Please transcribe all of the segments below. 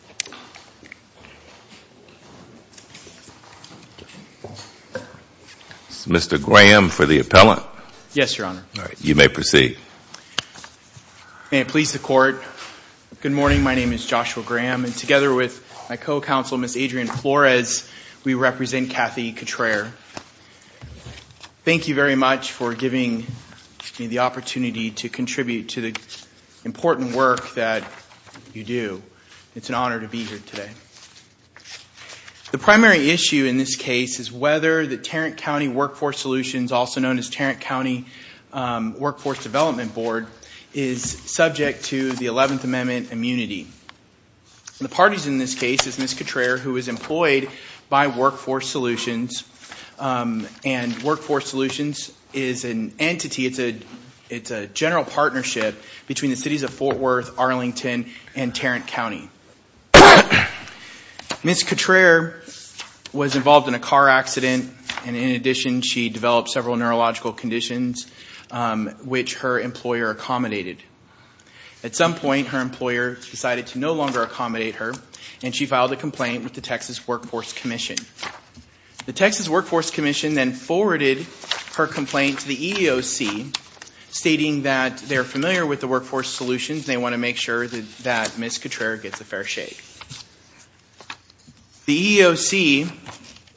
e Mr. Graham for the appellant. Yes, Your Honor. You may proceed. May it please the Court. Good morning. My name is Joshua Graham, and together with my co-counsel, Ms. Adrienne Flores, we represent Kathy Cutrer. Thank you very much for giving me the opportunity to contribute to the important work that you do. It's an honor to be here today. The primary issue in this case is whether the Tarrant County Workforce Solutions, also known as Tarrant County Workforce Development Board, is subject to the 11th Amendment immunity. The parties in this case is Ms. Cutrer, who is employed by Workforce Solutions, and Workforce Solutions is an entity. It's a general partnership between the cities of Fort Worth, Arlington, and Tarrant County. Ms. Cutrer was involved in a car accident, and in addition, she developed several neurological conditions, which her employer accommodated. At some point, her employer decided to no longer accommodate her, and she filed a complaint with the Texas Workforce Commission. The Texas Workforce Commission then forwarded her complaint to the EEOC, stating that they're familiar with the Workforce Solutions, and they want to make sure that Ms. Cutrer gets a fair shake. The EEOC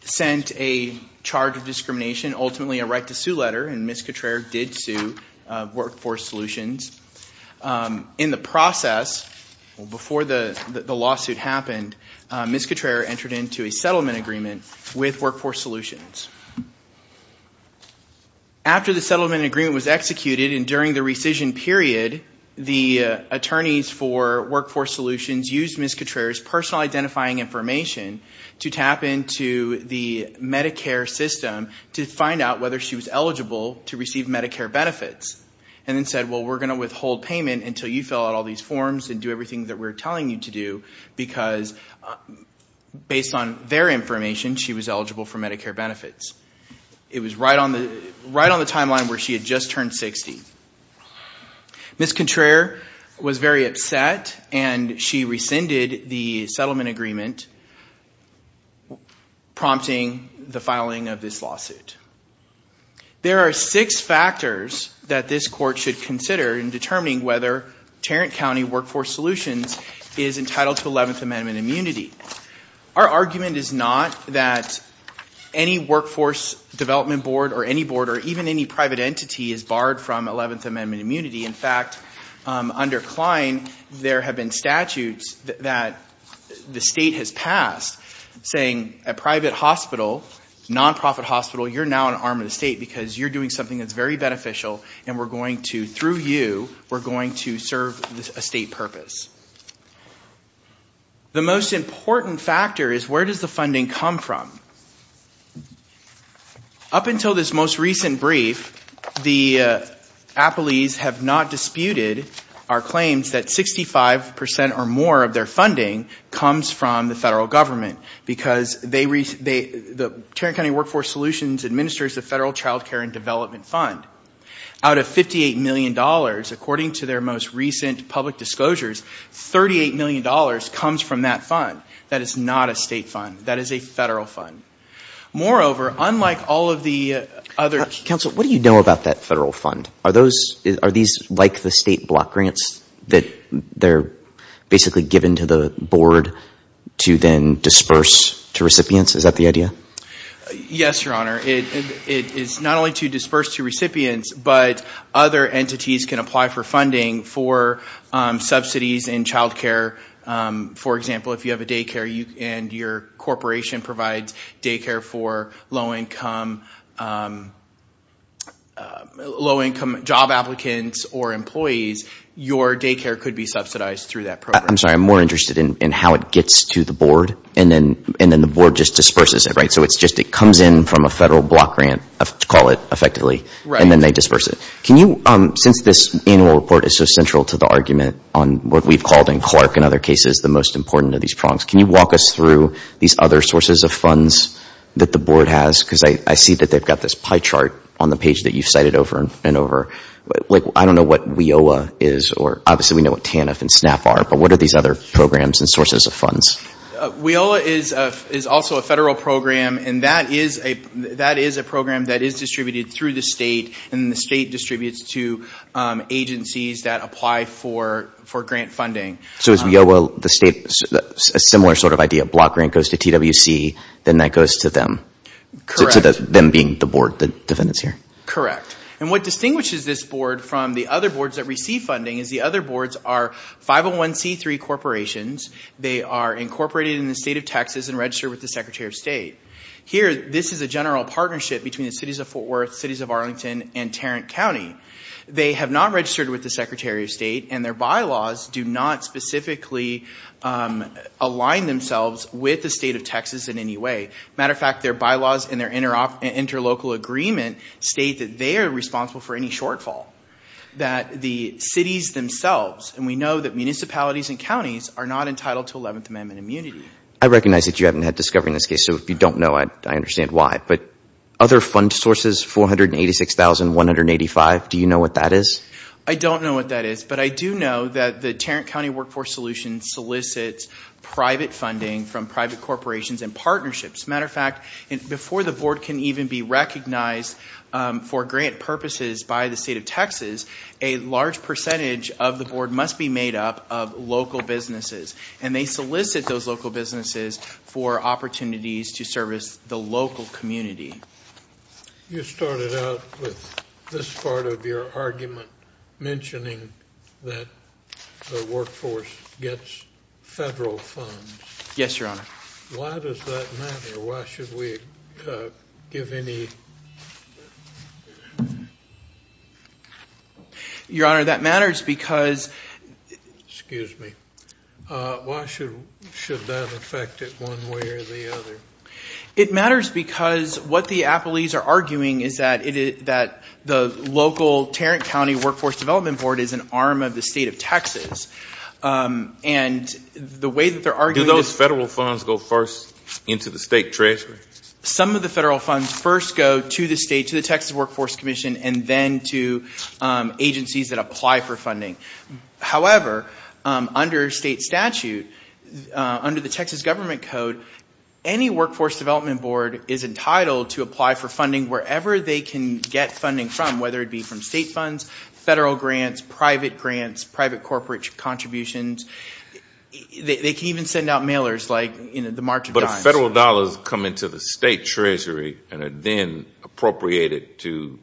sent a charge of discrimination, ultimately a right to sue letter, and Ms. Cutrer did sue Workforce Solutions. In the process, before the lawsuit happened, Ms. Cutrer entered into a settlement agreement with Workforce Solutions. After the settlement agreement was executed, and during the rescission period, the attorneys for Workforce Solutions used Ms. Cutrer's personal identifying information to tap into the Medicare system to find out whether she was eligible to receive Medicare benefits, and then said, well, we're going to withhold payment until you fill out all these forms and do everything that we're telling you to do, because based on their information, she was eligible for Medicare benefits. It was right on the timeline where she had just turned 60. Ms. Cutrer was very upset, and she rescinded the settlement agreement, prompting the filing of this lawsuit. There are six factors that this court should consider in determining whether Tarrant County Workforce Solutions is entitled to 11th Amendment immunity. Our argument is not that any Workforce Development Board or any board or even any private entity is barred from 11th Amendment immunity. In fact, under Kline, there have been statutes that the state has passed saying a private hospital, non-profit hospital, you're now an arm of the state because you're doing something that's very beneficial, and we're going to, through you, we're going to serve a state purpose. The most important factor is where does the funding come from? Up until this most recent brief, the Appleys have not disputed our claims that 65 percent or more of their funding comes from the federal government, because the Tarrant County Workforce Solutions administers the Federal Child Care and Development Fund. Out of $58 million, according to their most recent public disclosures, $38 million comes from that fund. That is not a state fund. That is a federal fund. Moreover, unlike all of the other… Counsel, what do you know about that federal fund? Are these like the state block grants that they're basically given to the board to then disperse to recipients? Is that the idea? Yes, Your Honor. It is not only to disperse to recipients, but other entities can apply for funding for subsidies in child care. For example, if you have a daycare and your corporation provides daycare for low-income job applicants or employees, your daycare could be subsidized through that program. I'm sorry. I'm more interested in how it gets to the board, and then the board just disperses it, right? So it's just it comes in from a federal block grant, to call it effectively, and then they disperse it. Can you, since this annual report is so central to the argument on what we've called in Clark and other cases the most important of these prongs, can you walk us through these other sources of funds that the board has? Because I see that they've got this pie chart on the page that you've cited over and over. I don't know what WIOA is, or obviously we know what TANF and SNAP are, but what are these other programs and sources of funds? WIOA is also a federal program, and that is a program that is distributed through the state, and the state distributes to agencies that apply for grant funding. So is WIOA a similar sort of idea? Block grant goes to TWC, then that goes to them? Correct. To them being the board, the defendants here? Correct. And what distinguishes this board from the other boards that receive funding is the other boards are 501c3 corporations. They are incorporated in the state of Texas and registered with the secretary of state. Here, this is a general partnership between the cities of Fort Worth, cities of Arlington, and Tarrant County. They have not registered with the secretary of state, and their bylaws do not specifically align themselves with the state of Texas in any way. Matter of fact, their bylaws and their interlocal agreement state that they are responsible for any shortfall. That the cities themselves, and we know that municipalities and counties are not entitled to 11th Amendment immunity. I recognize that you haven't had discovery in this case, so if you don't know, I understand why. But other fund sources, 486,185, do you know what that is? I don't know what that is, but I do know that the Tarrant County Workforce Solution solicits private funding from private corporations and partnerships. Matter of fact, before the board can even be recognized for grant purposes by the state of Texas, a large percentage of the board must be made up of local businesses. And they solicit those local businesses for opportunities to service the local community. You started out with this part of your argument, mentioning that the workforce gets federal funds. Yes, Your Honor. Why does that matter? Why should we give any... Your Honor, that matters because... Excuse me. Why should that affect it one way or the other? It matters because what the appellees are arguing is that the local Tarrant County Workforce Development Board is an arm of the state of Texas. And the way that they're arguing... Do those federal funds go first into the state treasury? Some of the federal funds first go to the state, to the Texas Workforce Commission, and then to agencies that apply for funding. However, under state statute, under the Texas Government Code, any workforce development board is entitled to apply for funding wherever they can get funding from, whether it be from state funds, federal grants, private grants, private corporate contributions. They can even send out mailers, like the March of Dimes. But if federal dollars come into the state treasury and are then appropriated to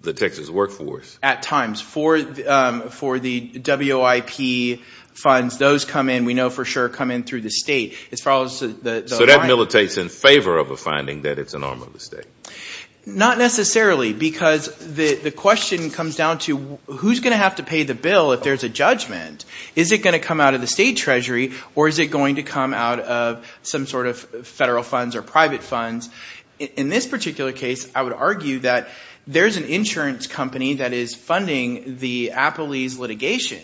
the Texas workforce? At times. For the WIP funds, those come in. We know for sure come in through the state. So that militates in favor of a finding that it's an arm of the state? Not necessarily, because the question comes down to who's going to have to pay the bill if there's a judgment? Is it going to come out of the state treasury, or is it going to come out of some sort of federal funds or private funds? In this particular case, I would argue that there's an insurance company that is funding the Apolese litigation,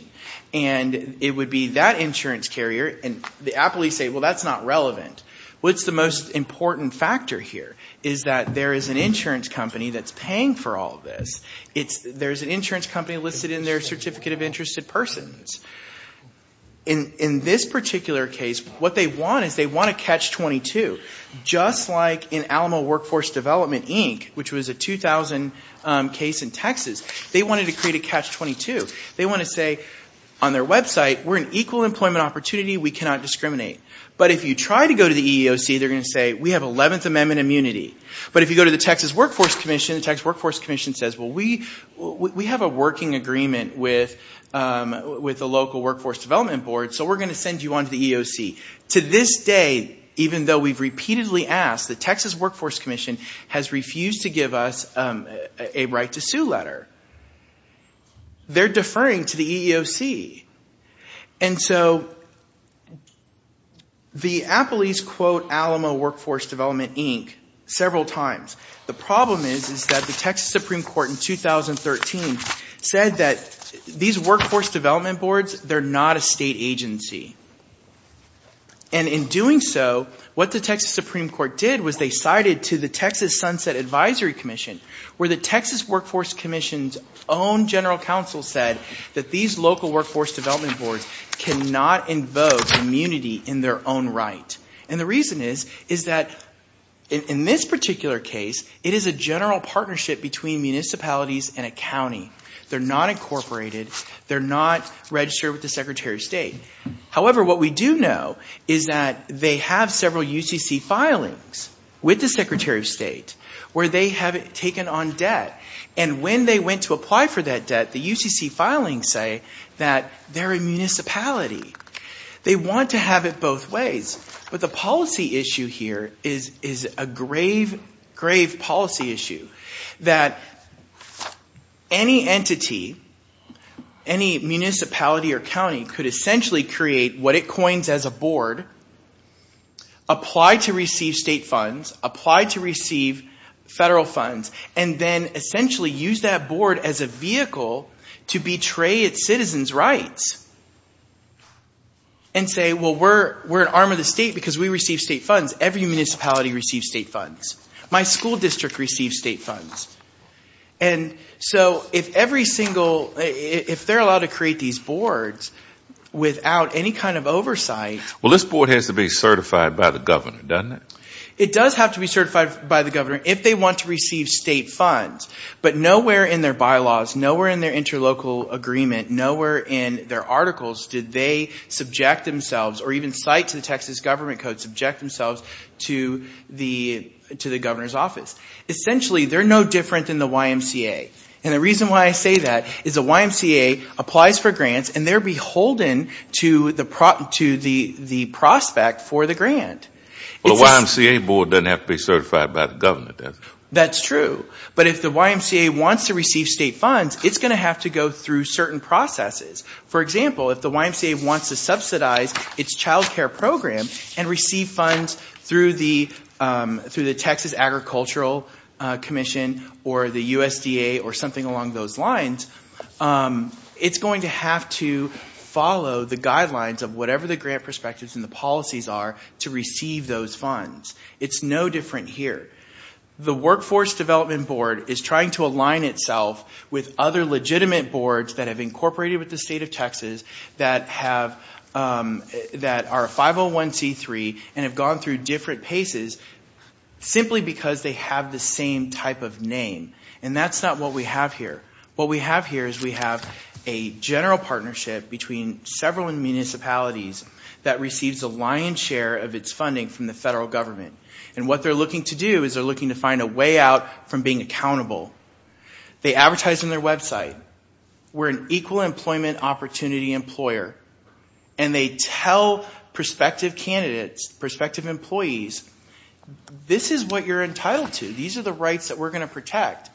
and it would be that insurance carrier. And the Apolese say, well, that's not relevant. What's the most important factor here is that there is an insurance company that's paying for all of this. There's an insurance company listed in their Certificate of Interested Persons. In this particular case, what they want is they want to catch 22. Just like in Alamo Workforce Development, Inc., which was a 2000 case in Texas, they wanted to create a catch 22. They want to say on their website, we're an equal employment opportunity, we cannot discriminate. But if you try to go to the EEOC, they're going to say, we have 11th Amendment immunity. But if you go to the Texas Workforce Commission, the Texas Workforce Commission says, well, we have a working agreement with the local Workforce Development Board, so we're going to send you on to the EEOC. To this day, even though we've repeatedly asked, the Texas Workforce Commission has refused to give us a right to sue letter. They're deferring to the EEOC. And so the Appleys quote Alamo Workforce Development, Inc. several times. The problem is that the Texas Supreme Court in 2013 said that these Workforce Development Boards, they're not a state agency. And in doing so, what the Texas Supreme Court did was they cited to the Texas Sunset Advisory Commission, where the Texas Workforce Commission's own general counsel said that these local Workforce Development Boards cannot invoke immunity in their own right. And the reason is, is that in this particular case, it is a general partnership between municipalities and a county. They're not incorporated. They're not registered with the Secretary of State. And when they went to apply for that debt, the UCC filings say that they're a municipality. They want to have it both ways. But the policy issue here is a grave, grave policy issue. That any entity, any municipality or county could essentially create what it coins as a board, apply to receive state funds, apply to receive federal funds, and then essentially use that board as a vehicle to betray its citizens' rights. And say, well, we're an arm of the state because we receive state funds. Every municipality receives state funds. My school district receives state funds. And so if every single, if they're allowed to create these boards without any kind of oversight. Well, this board has to be certified by the governor, doesn't it? It does have to be certified by the governor if they want to receive state funds. But nowhere in their bylaws, nowhere in their interlocal agreement, nowhere in their articles did they subject themselves, or even cite to the Texas Government Code, subject themselves to the governor's office. Essentially, they're no different than the YMCA. And the reason why I say that is the YMCA applies for grants and they're beholden to the prospect for the grant. Well, the YMCA board doesn't have to be certified by the governor, does it? That's true. But if the YMCA wants to receive state funds, it's going to have to go through certain processes. For example, if the YMCA wants to subsidize its child care program and receive funds through the Texas Agricultural Commission or the USDA or something along those lines, it's going to have to follow the guidelines of whatever the grant perspectives and the policies are to receive those funds. It's no different here. The Workforce Development Board is trying to align itself with other legitimate boards that have incorporated with the state of Texas that are a 501c3 and have gone through different paces simply because they have the same type of name. And that's not what we have here. What we have here is we have a general partnership between several municipalities that receives a lion's share of its funding from the federal government. And what they're looking to do is they're looking to find a way out from being accountable. They advertise on their website, we're an equal employment opportunity employer. And they tell prospective candidates, prospective employees, this is what you're entitled to. These are the rights that we're going to protect.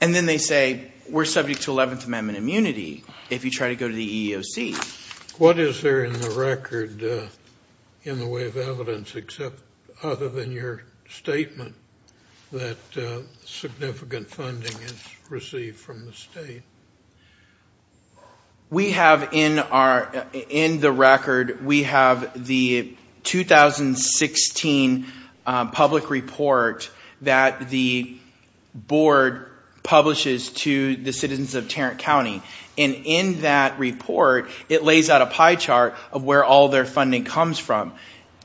And then they say, we're subject to 11th Amendment immunity if you try to go to the EEOC. What is there in the record in the way of evidence except other than your statement that significant funding is received from the state? We have in the record, we have the 2016 public report that the board publishes to the citizens of Tarrant County. And in that report, it lays out a pie chart of where all their funding comes from.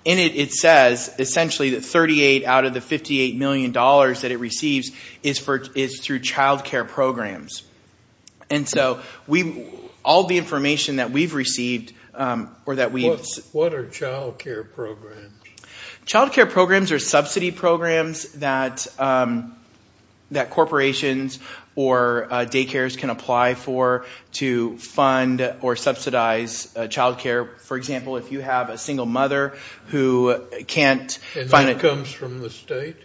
And it says essentially that 38 out of the $58 million that it receives is through child care programs. And so all the information that we've received or that we've – What are child care programs? Child care programs are subsidy programs that corporations or daycares can apply for to fund or subsidize child care. For example, if you have a single mother who can't – And that comes from the state?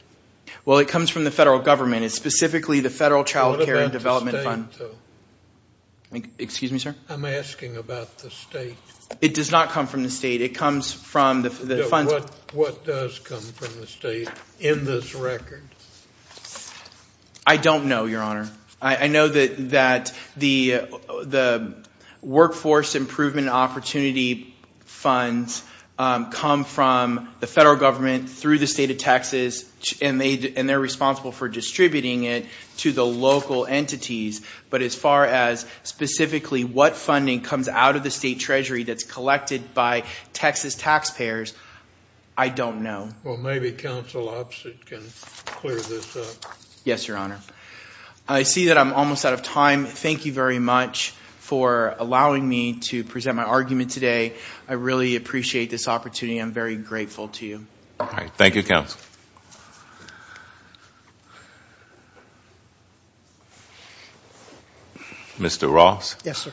Well, it comes from the federal government. It's specifically the Federal Child Care and Development Fund. What about the state though? Excuse me, sir? I'm asking about the state. It does not come from the state. It comes from the funds – What does come from the state in this record? I don't know, Your Honor. I know that the Workforce Improvement Opportunity Funds come from the federal government through the state of Texas, and they're responsible for distributing it to the local entities. But as far as specifically what funding comes out of the state treasury that's collected by Texas taxpayers, I don't know. Well, maybe counsel can clear this up. Yes, Your Honor. I see that I'm almost out of time. Thank you very much for allowing me to present my argument today. I really appreciate this opportunity. I'm very grateful to you. All right. Thank you, counsel. Mr. Ross? Yes, sir.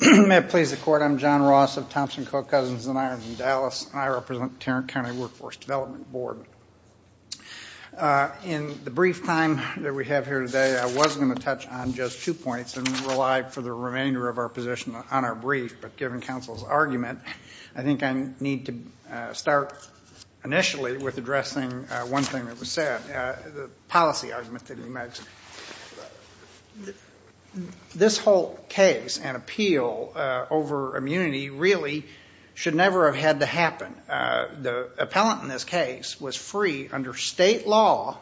May it please the Court, I'm John Ross of Thompson, Koch, Cousins & Irons in Dallas, and I represent the Tarrant County Workforce Development Board. In the brief time that we have here today, I was going to touch on just two points and rely for the remainder of our position on our brief, but given counsel's argument, I think I need to start initially with addressing one thing that was said, the policy argument that he made. This whole case and appeal over immunity really should never have had to happen. The appellant in this case was free under state law,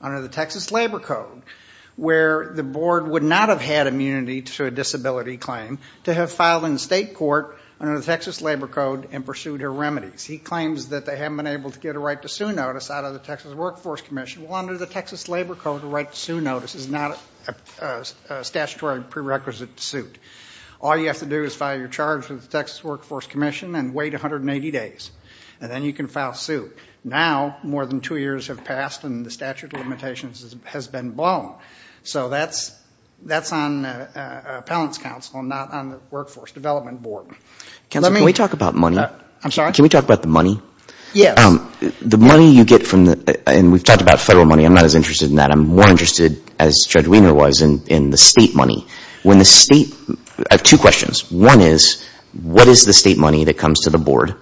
under the Texas Labor Code, where the board would not have had immunity to a disability claim to have filed in state court under the Texas Labor Code and pursued her remedies. He claims that they haven't been able to get a right to sue notice out of the Texas Workforce Commission. Well, under the Texas Labor Code, a right to sue notice is not a statutory prerequisite to sue. All you have to do is file your charge with the Texas Workforce Commission and wait 180 days, and then you can file sue. Now, more than two years have passed and the statute of limitations has been blown. So that's on appellant's counsel and not on the Workforce Development Board. Counsel, can we talk about money? I'm sorry? Can we talk about the money? Yes. The money you get from the, and we've talked about federal money. I'm not as interested in that. I'm more interested, as Judge Wiener was, in the state money. When the state, I have two questions. One is what is the state money that comes to the board?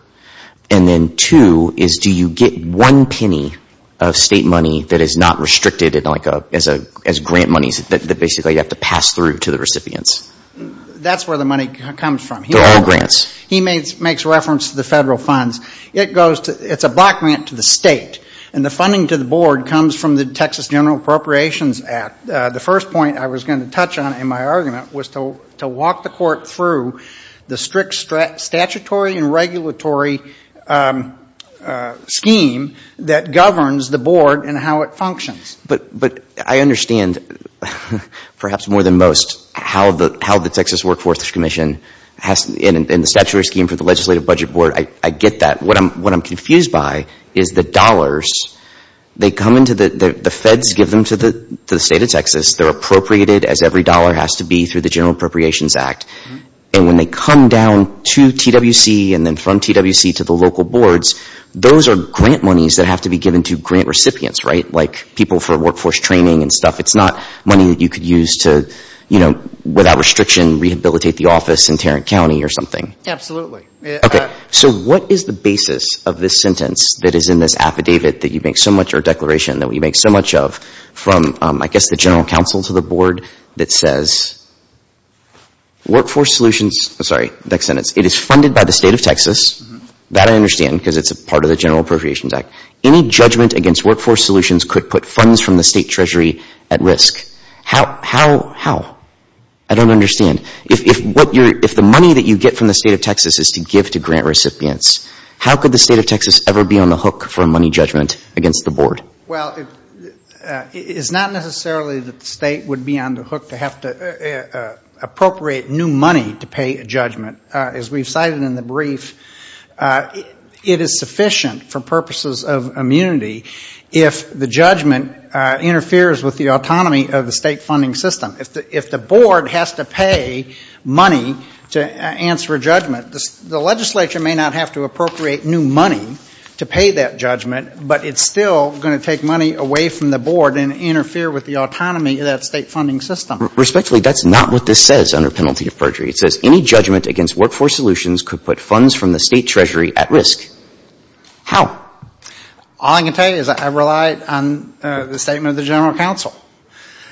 And then two is do you get one penny of state money that is not restricted as grant money that basically you have to pass through to the recipients? That's where the money comes from. They're all grants. He makes reference to the federal funds. It's a block grant to the state, and the funding to the board comes from the Texas General Appropriations Act. The first point I was going to touch on in my argument was to walk the court through the strict statutory and regulatory scheme that governs the board and how it functions. But I understand, perhaps more than most, how the Texas Workforce Commission has, and the statutory scheme for the Legislative Budget Board, I get that. What I'm confused by is the dollars, they come into the, the feds give them to the state of Texas. They're appropriated as every dollar has to be through the General Appropriations Act. And when they come down to TWC and then from TWC to the local boards, those are grant monies that have to be given to grant recipients, right? Like people for workforce training and stuff. It's not money that you could use to, you know, without restriction, rehabilitate the office in Tarrant County or something. Absolutely. Okay. So what is the basis of this sentence that is in this affidavit that you make so much, that says, workforce solutions, sorry, next sentence, it is funded by the state of Texas. That I understand because it's a part of the General Appropriations Act. Any judgment against workforce solutions could put funds from the state treasury at risk. How, how, how? I don't understand. If, if what you're, if the money that you get from the state of Texas is to give to grant recipients, how could the state of Texas ever be on the hook for a money judgment against the board? Well, it's not necessarily that the state would be on the hook to have to appropriate new money to pay a judgment. As we've cited in the brief, it is sufficient for purposes of immunity if the judgment interferes with the autonomy of the state funding system. If the board has to pay money to answer a judgment, the legislature may not have to appropriate new money to pay that judgment, but it's still going to take money away from the board and interfere with the autonomy of that state funding system. Respectfully, that's not what this says under penalty of perjury. It says any judgment against workforce solutions could put funds from the state treasury at risk. How? All I can tell you is I relied on the statement of the General Counsel.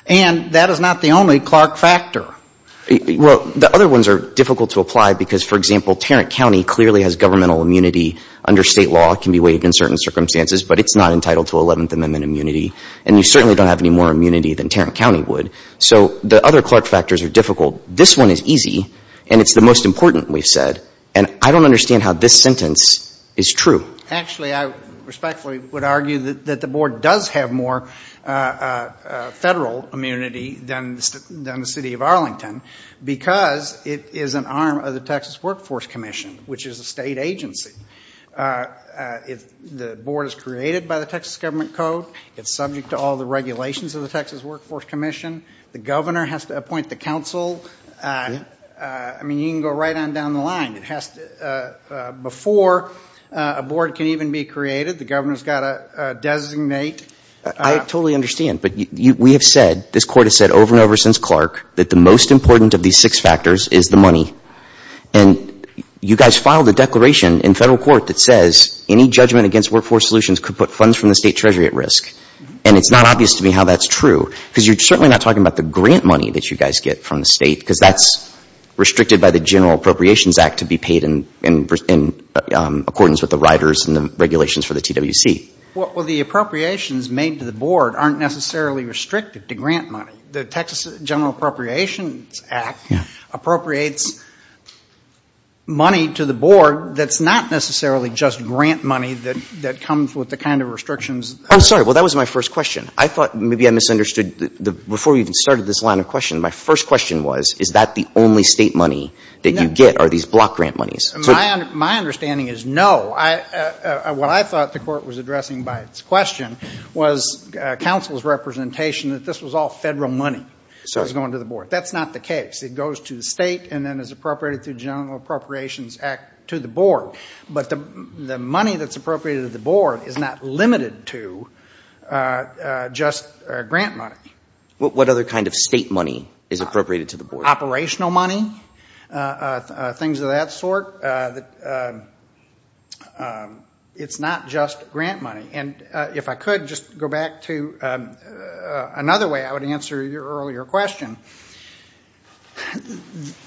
And that is not the only Clark factor. Well, the other ones are difficult to apply because, for example, Tarrant County clearly has governmental immunity under state law. It can be waived in certain circumstances, but it's not entitled to Eleventh Amendment immunity. And you certainly don't have any more immunity than Tarrant County would. So the other Clark factors are difficult. This one is easy, and it's the most important, we've said. And I don't understand how this sentence is true. Actually, I respectfully would argue that the board does have more Federal immunity than the City of Arlington because it is an arm of the Texas Workforce Commission, which is a state agency. The board is created by the Texas Government Code. It's subject to all the regulations of the Texas Workforce Commission. The governor has to appoint the counsel. I mean, you can go right on down the line. Before a board can even be created, the governor has got to designate. I totally understand. But we have said, this court has said over and over since Clark, that the most important of these six factors is the money. And you guys filed a declaration in federal court that says any judgment against workforce solutions could put funds from the state treasury at risk. And it's not obvious to me how that's true because you're certainly not talking about the grant money that you guys get from the state because that's restricted by the General Appropriations Act to be paid in accordance with the riders and the regulations for the TWC. Well, the appropriations made to the board aren't necessarily restricted to grant money. The Texas General Appropriations Act appropriates money to the board that's not necessarily just grant money that comes with the kind of restrictions. I'm sorry. Well, that was my first question. I thought maybe I misunderstood. Before we even started this line of question, my first question was, is that the only state money that you get are these block grant monies? My understanding is no. What I thought the court was addressing by its question was counsel's representation that this was all federal money that was going to the board. That's not the case. It goes to the state and then is appropriated through General Appropriations Act to the board. But the money that's appropriated to the board is not limited to just grant money. What other kind of state money is appropriated to the board? Operational money? Things of that sort? It's not just grant money. And if I could, just go back to another way I would answer your earlier question.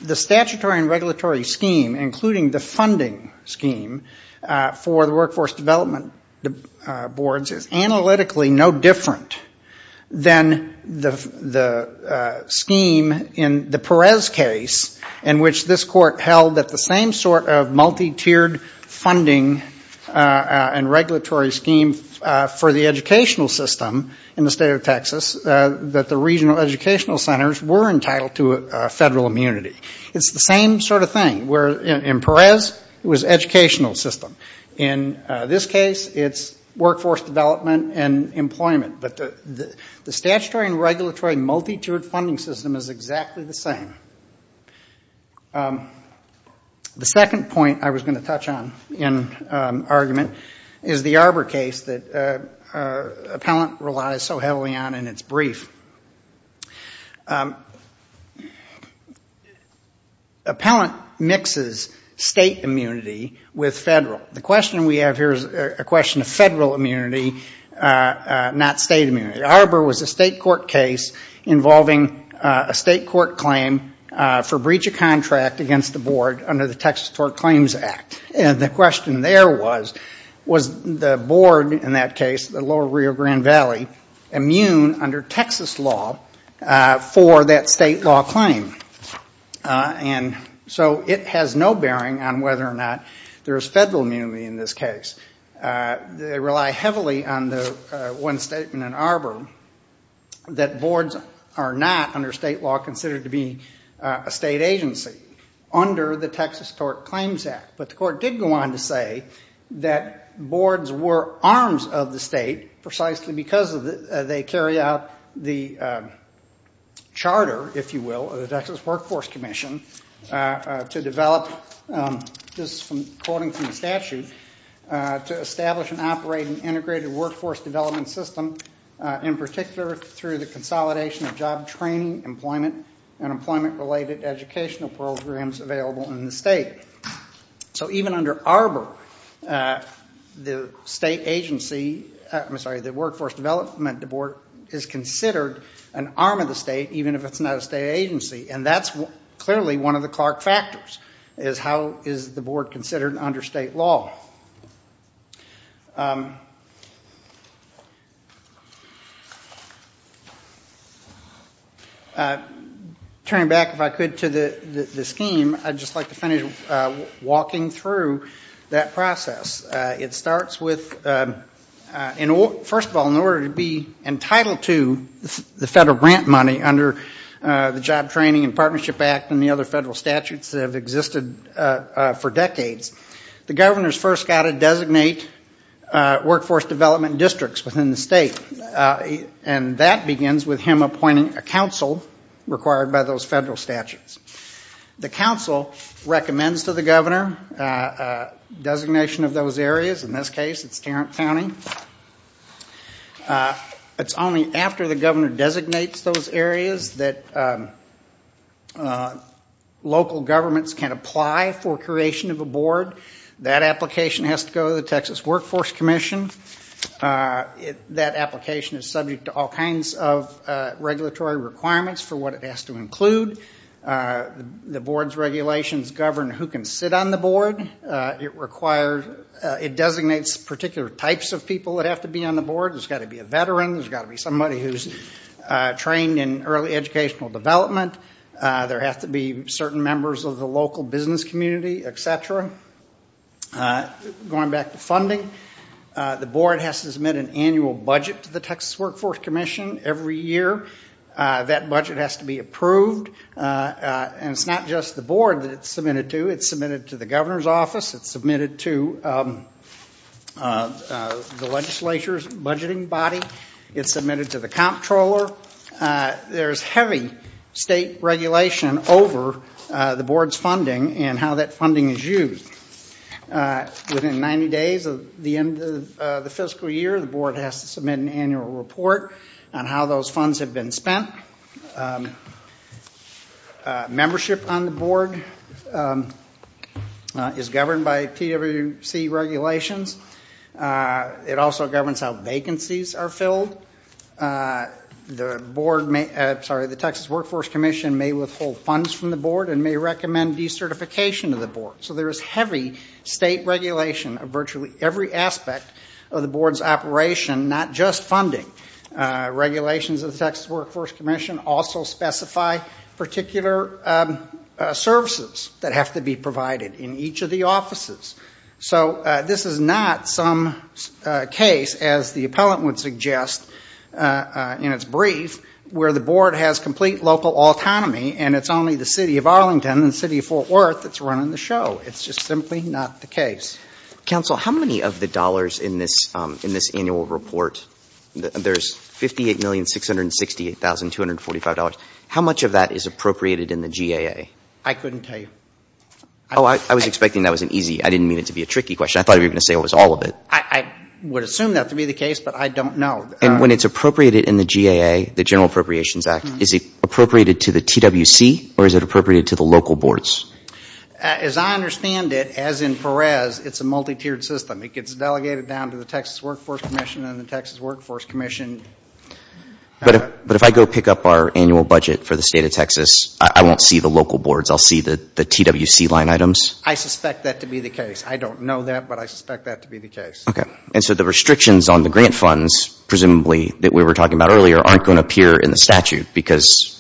The statutory and regulatory scheme, including the funding scheme for the Workforce Development Boards, is analytically no different than the scheme in the Perez case, in which this court held that the same sort of multi-tiered funding and regulatory scheme for the educational system in the state of Texas, that the regional educational centers were entitled to federal immunity. It's the same sort of thing. In Perez, it was educational system. In this case, it's workforce development and employment. But the statutory and regulatory multi-tiered funding system is exactly the same. The second point I was going to touch on in argument is the Arbor case that Appellant relies so heavily on in its brief. Appellant mixes state immunity with federal. The question we have here is a question of federal immunity, not state immunity. Arbor was a state court case involving a state court claim for breach of contract against the board under the Texas Tort Claims Act. And the question there was, was the board in that case, the lower Rio Grande Valley, immune under Texas law for that state law claim? And so it has no bearing on whether or not there is federal immunity in this case. They rely heavily on the one statement in Arbor that boards are not under state law considered to be a state agency under the Texas Tort Claims Act. But the court did go on to say that boards were arms of the state precisely because they carry out the charter, if you will, of the Texas Workforce Commission to develop, just quoting from the statute, to establish and operate an integrated workforce development system, in particular through the consolidation of job training, employment, and employment-related educational programs available in the state. So even under Arbor, the state agency, I'm sorry, the Workforce Development Board is considered an arm of the state, even if it's not a state agency, and that's clearly one of the Clark factors, is how is the board considered under state law? Turning back, if I could, to the scheme, I'd just like to finish walking through that process. It starts with, first of all, in order to be entitled to the federal grant money under the Job Training and Partnership Act and the other federal statutes that have existed for decades, the governor's first got to designate workforce development districts within the state. And that begins with him appointing a council required by those federal statutes. The council recommends to the governor a designation of those areas. In this case, it's Tarrant County. It's only after the governor designates those areas that local governments, state governments, can apply for creation of a board. That application has to go to the Texas Workforce Commission. That application is subject to all kinds of regulatory requirements for what it has to include. The board's regulations govern who can sit on the board. It designates particular types of people that have to be on the board. There's got to be a veteran. There's got to be somebody who's trained in early educational development. There have to be certain members of the local business community, et cetera. Going back to funding, the board has to submit an annual budget to the Texas Workforce Commission every year. That budget has to be approved. And it's not just the board that it's submitted to. It's submitted to the governor's office. It's submitted to the legislature's budgeting body. It's submitted to the comptroller. There's heavy state regulation over the board's funding and how that funding is used. Within 90 days of the end of the fiscal year, the board has to submit an annual report on how those funds have been spent. Membership on the board is governed by PWC regulations. It also governs how vacancies are filled. The Texas Workforce Commission may withhold funds from the board and may recommend decertification of the board. So there is heavy state regulation of virtually every aspect of the board's operation, not just funding. Regulations of the Texas Workforce Commission also specify particular services that have to be provided in each of the offices. So this is not some case, as the appellant would suggest in its brief, where the board has complete local autonomy and it's only the city of Arlington and the city of Fort Worth that's running the show. It's just simply not the case. Counsel, how many of the dollars in this annual report, there's $58,668,245, how much of that is appropriated in the GAA? I couldn't tell you. I thought you were going to say it was all of it. I would assume that to be the case, but I don't know. As I understand it, as in Perez, it's a multi-tiered system. It gets delegated down to the Texas Workforce Commission and the Texas Workforce Commission. But if I go pick up our annual budget for the state of Texas, I won't see the local boards, I'll see the TWC line items? I suspect that to be the case. I don't know that, but I suspect that to be the case. Okay. And so the restrictions on the grant funds, presumably, that we were talking about earlier, aren't going to appear in the statute, because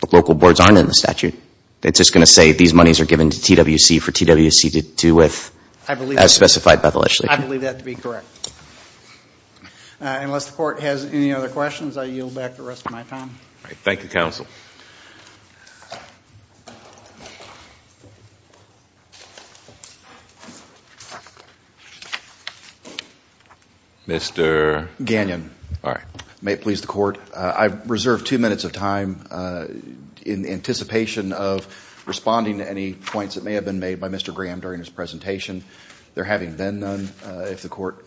the local boards aren't in the statute. It's just going to say these monies are given to TWC for TWC to do with, as specified by the legislature. I believe that to be correct. Unless the Court has any other questions, I yield back the rest of my time. Thank you, Counsel. Thank you. Mr. Gagnon. May it please the Court, I reserve two minutes of time in anticipation of responding to any points that may have been made by Mr. Graham during his presentation. There having been none, if the Court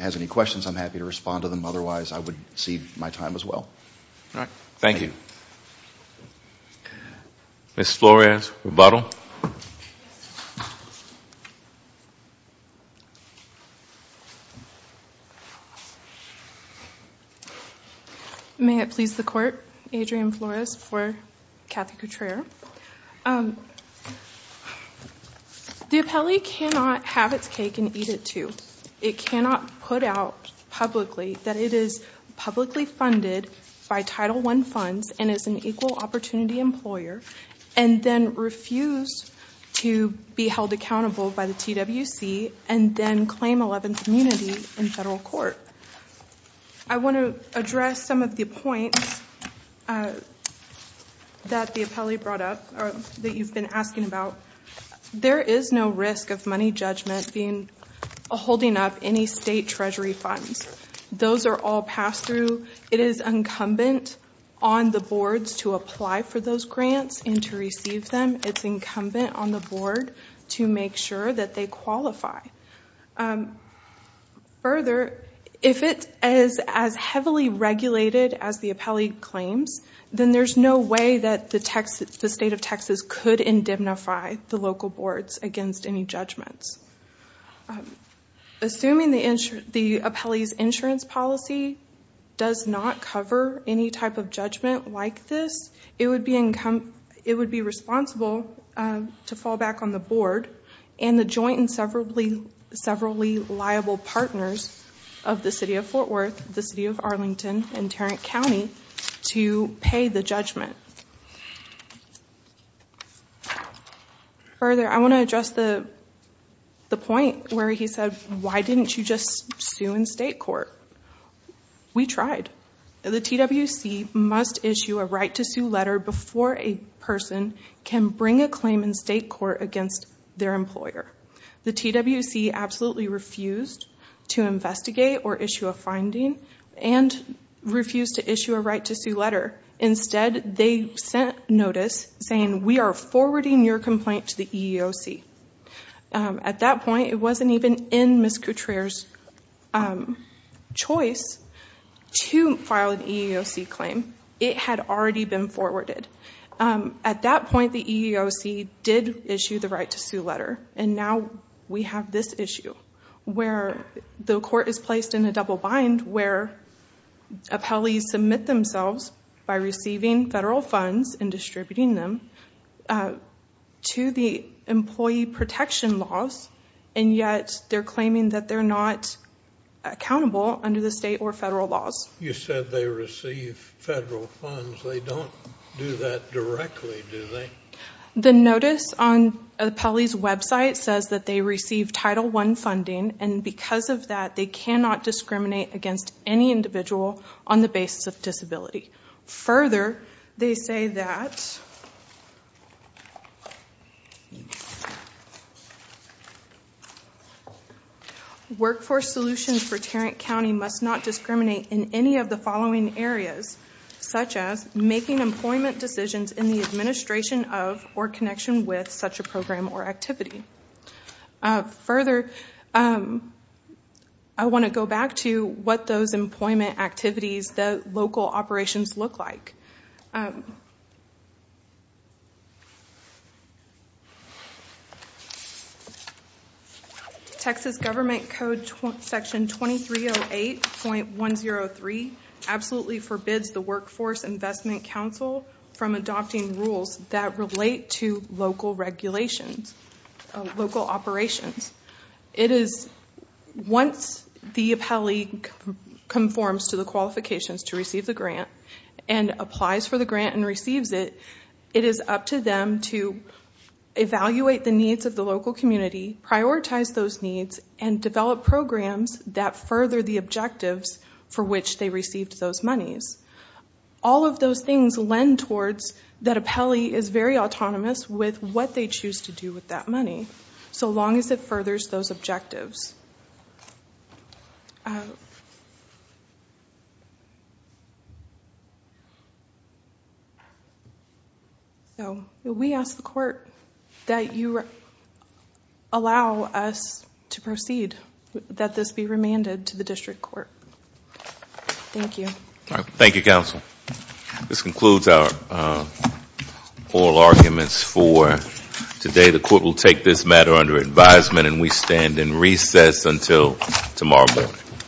has any questions, I'm happy to respond to them. Otherwise, I would cede my time as well. Thank you. Ms. Flores, rebuttal. May it please the Court, Adrienne Flores for Kathy Couture. The appellee cannot have its cake and eat it, too. It cannot put out publicly that it is publicly funded by Title I funds and is an equal opportunity employer and then refuse to be held accountable by the TWC and then claim 11th immunity in federal court. I want to address some of the points that the appellee brought up, that you've been asking about. There is no risk of money judgment being, it's incumbent on the boards to apply for those grants and to receive them. It's incumbent on the board to make sure that they qualify. Further, if it is as heavily regulated as the appellee claims, then there's no way that the state of Texas could indignify the local boards against any judgments. Assuming the appellee's insurance policy does not cover any type of judgment like this, it would be responsible to fall back on the board and the joint and severally liable partners of the City of Fort Worth, the City of Arlington, and Tarrant County to pay the judgment. Further, I want to address the point where he said, why didn't you just sue in state court? We tried. The TWC must issue a right to sue letter before a person can bring a claim in state court against their employer. The TWC absolutely refused to investigate or issue a finding and refused to issue a right to sue letter. Instead, they sent notice saying, we are forwarding your complaint to the EEOC. At that point, it wasn't even in Ms. Couture's choice to file an EEOC claim. It had already been forwarded. At that point, the EEOC did issue the right to sue letter, and now we have this issue, where the court is placed in a double bind where appellees submit themselves by receiving federal funds and distributing them to the employee protection laws, and yet they're claiming that they're not accountable under the state or federal laws. You said they receive federal funds. They don't do that directly, do they? The notice on appellees' website says that they receive Title I funding, and because of that, they cannot discriminate against any individual on the basis of disability. Further, they say that workforce solutions for Tarrant County must not discriminate in any of the following areas, such as making employment decisions in the administration of or connection with such a program or activity. Further, I want to go back to what those employment activities, the local operations, look like. Texas Government Code Section 2308.103 absolutely forbids the Workforce Investment Council from adopting rules that relate to local regulations, local operations. Once the appellee conforms to the qualifications to receive the grant and applies for the grant and receives it, it is up to them to evaluate the needs of the local community, prioritize those needs, and develop programs that further the objectives for which they received those monies. All of those things lend towards that appellee is very autonomous with what they choose to do with that money, so long as it furthers those objectives. We ask the court that you allow us to proceed, that this be remanded to the district court. Thank you. Thank you, counsel. This concludes our oral arguments for today. The court will take this matter under advisement and we stand in recess until tomorrow morning.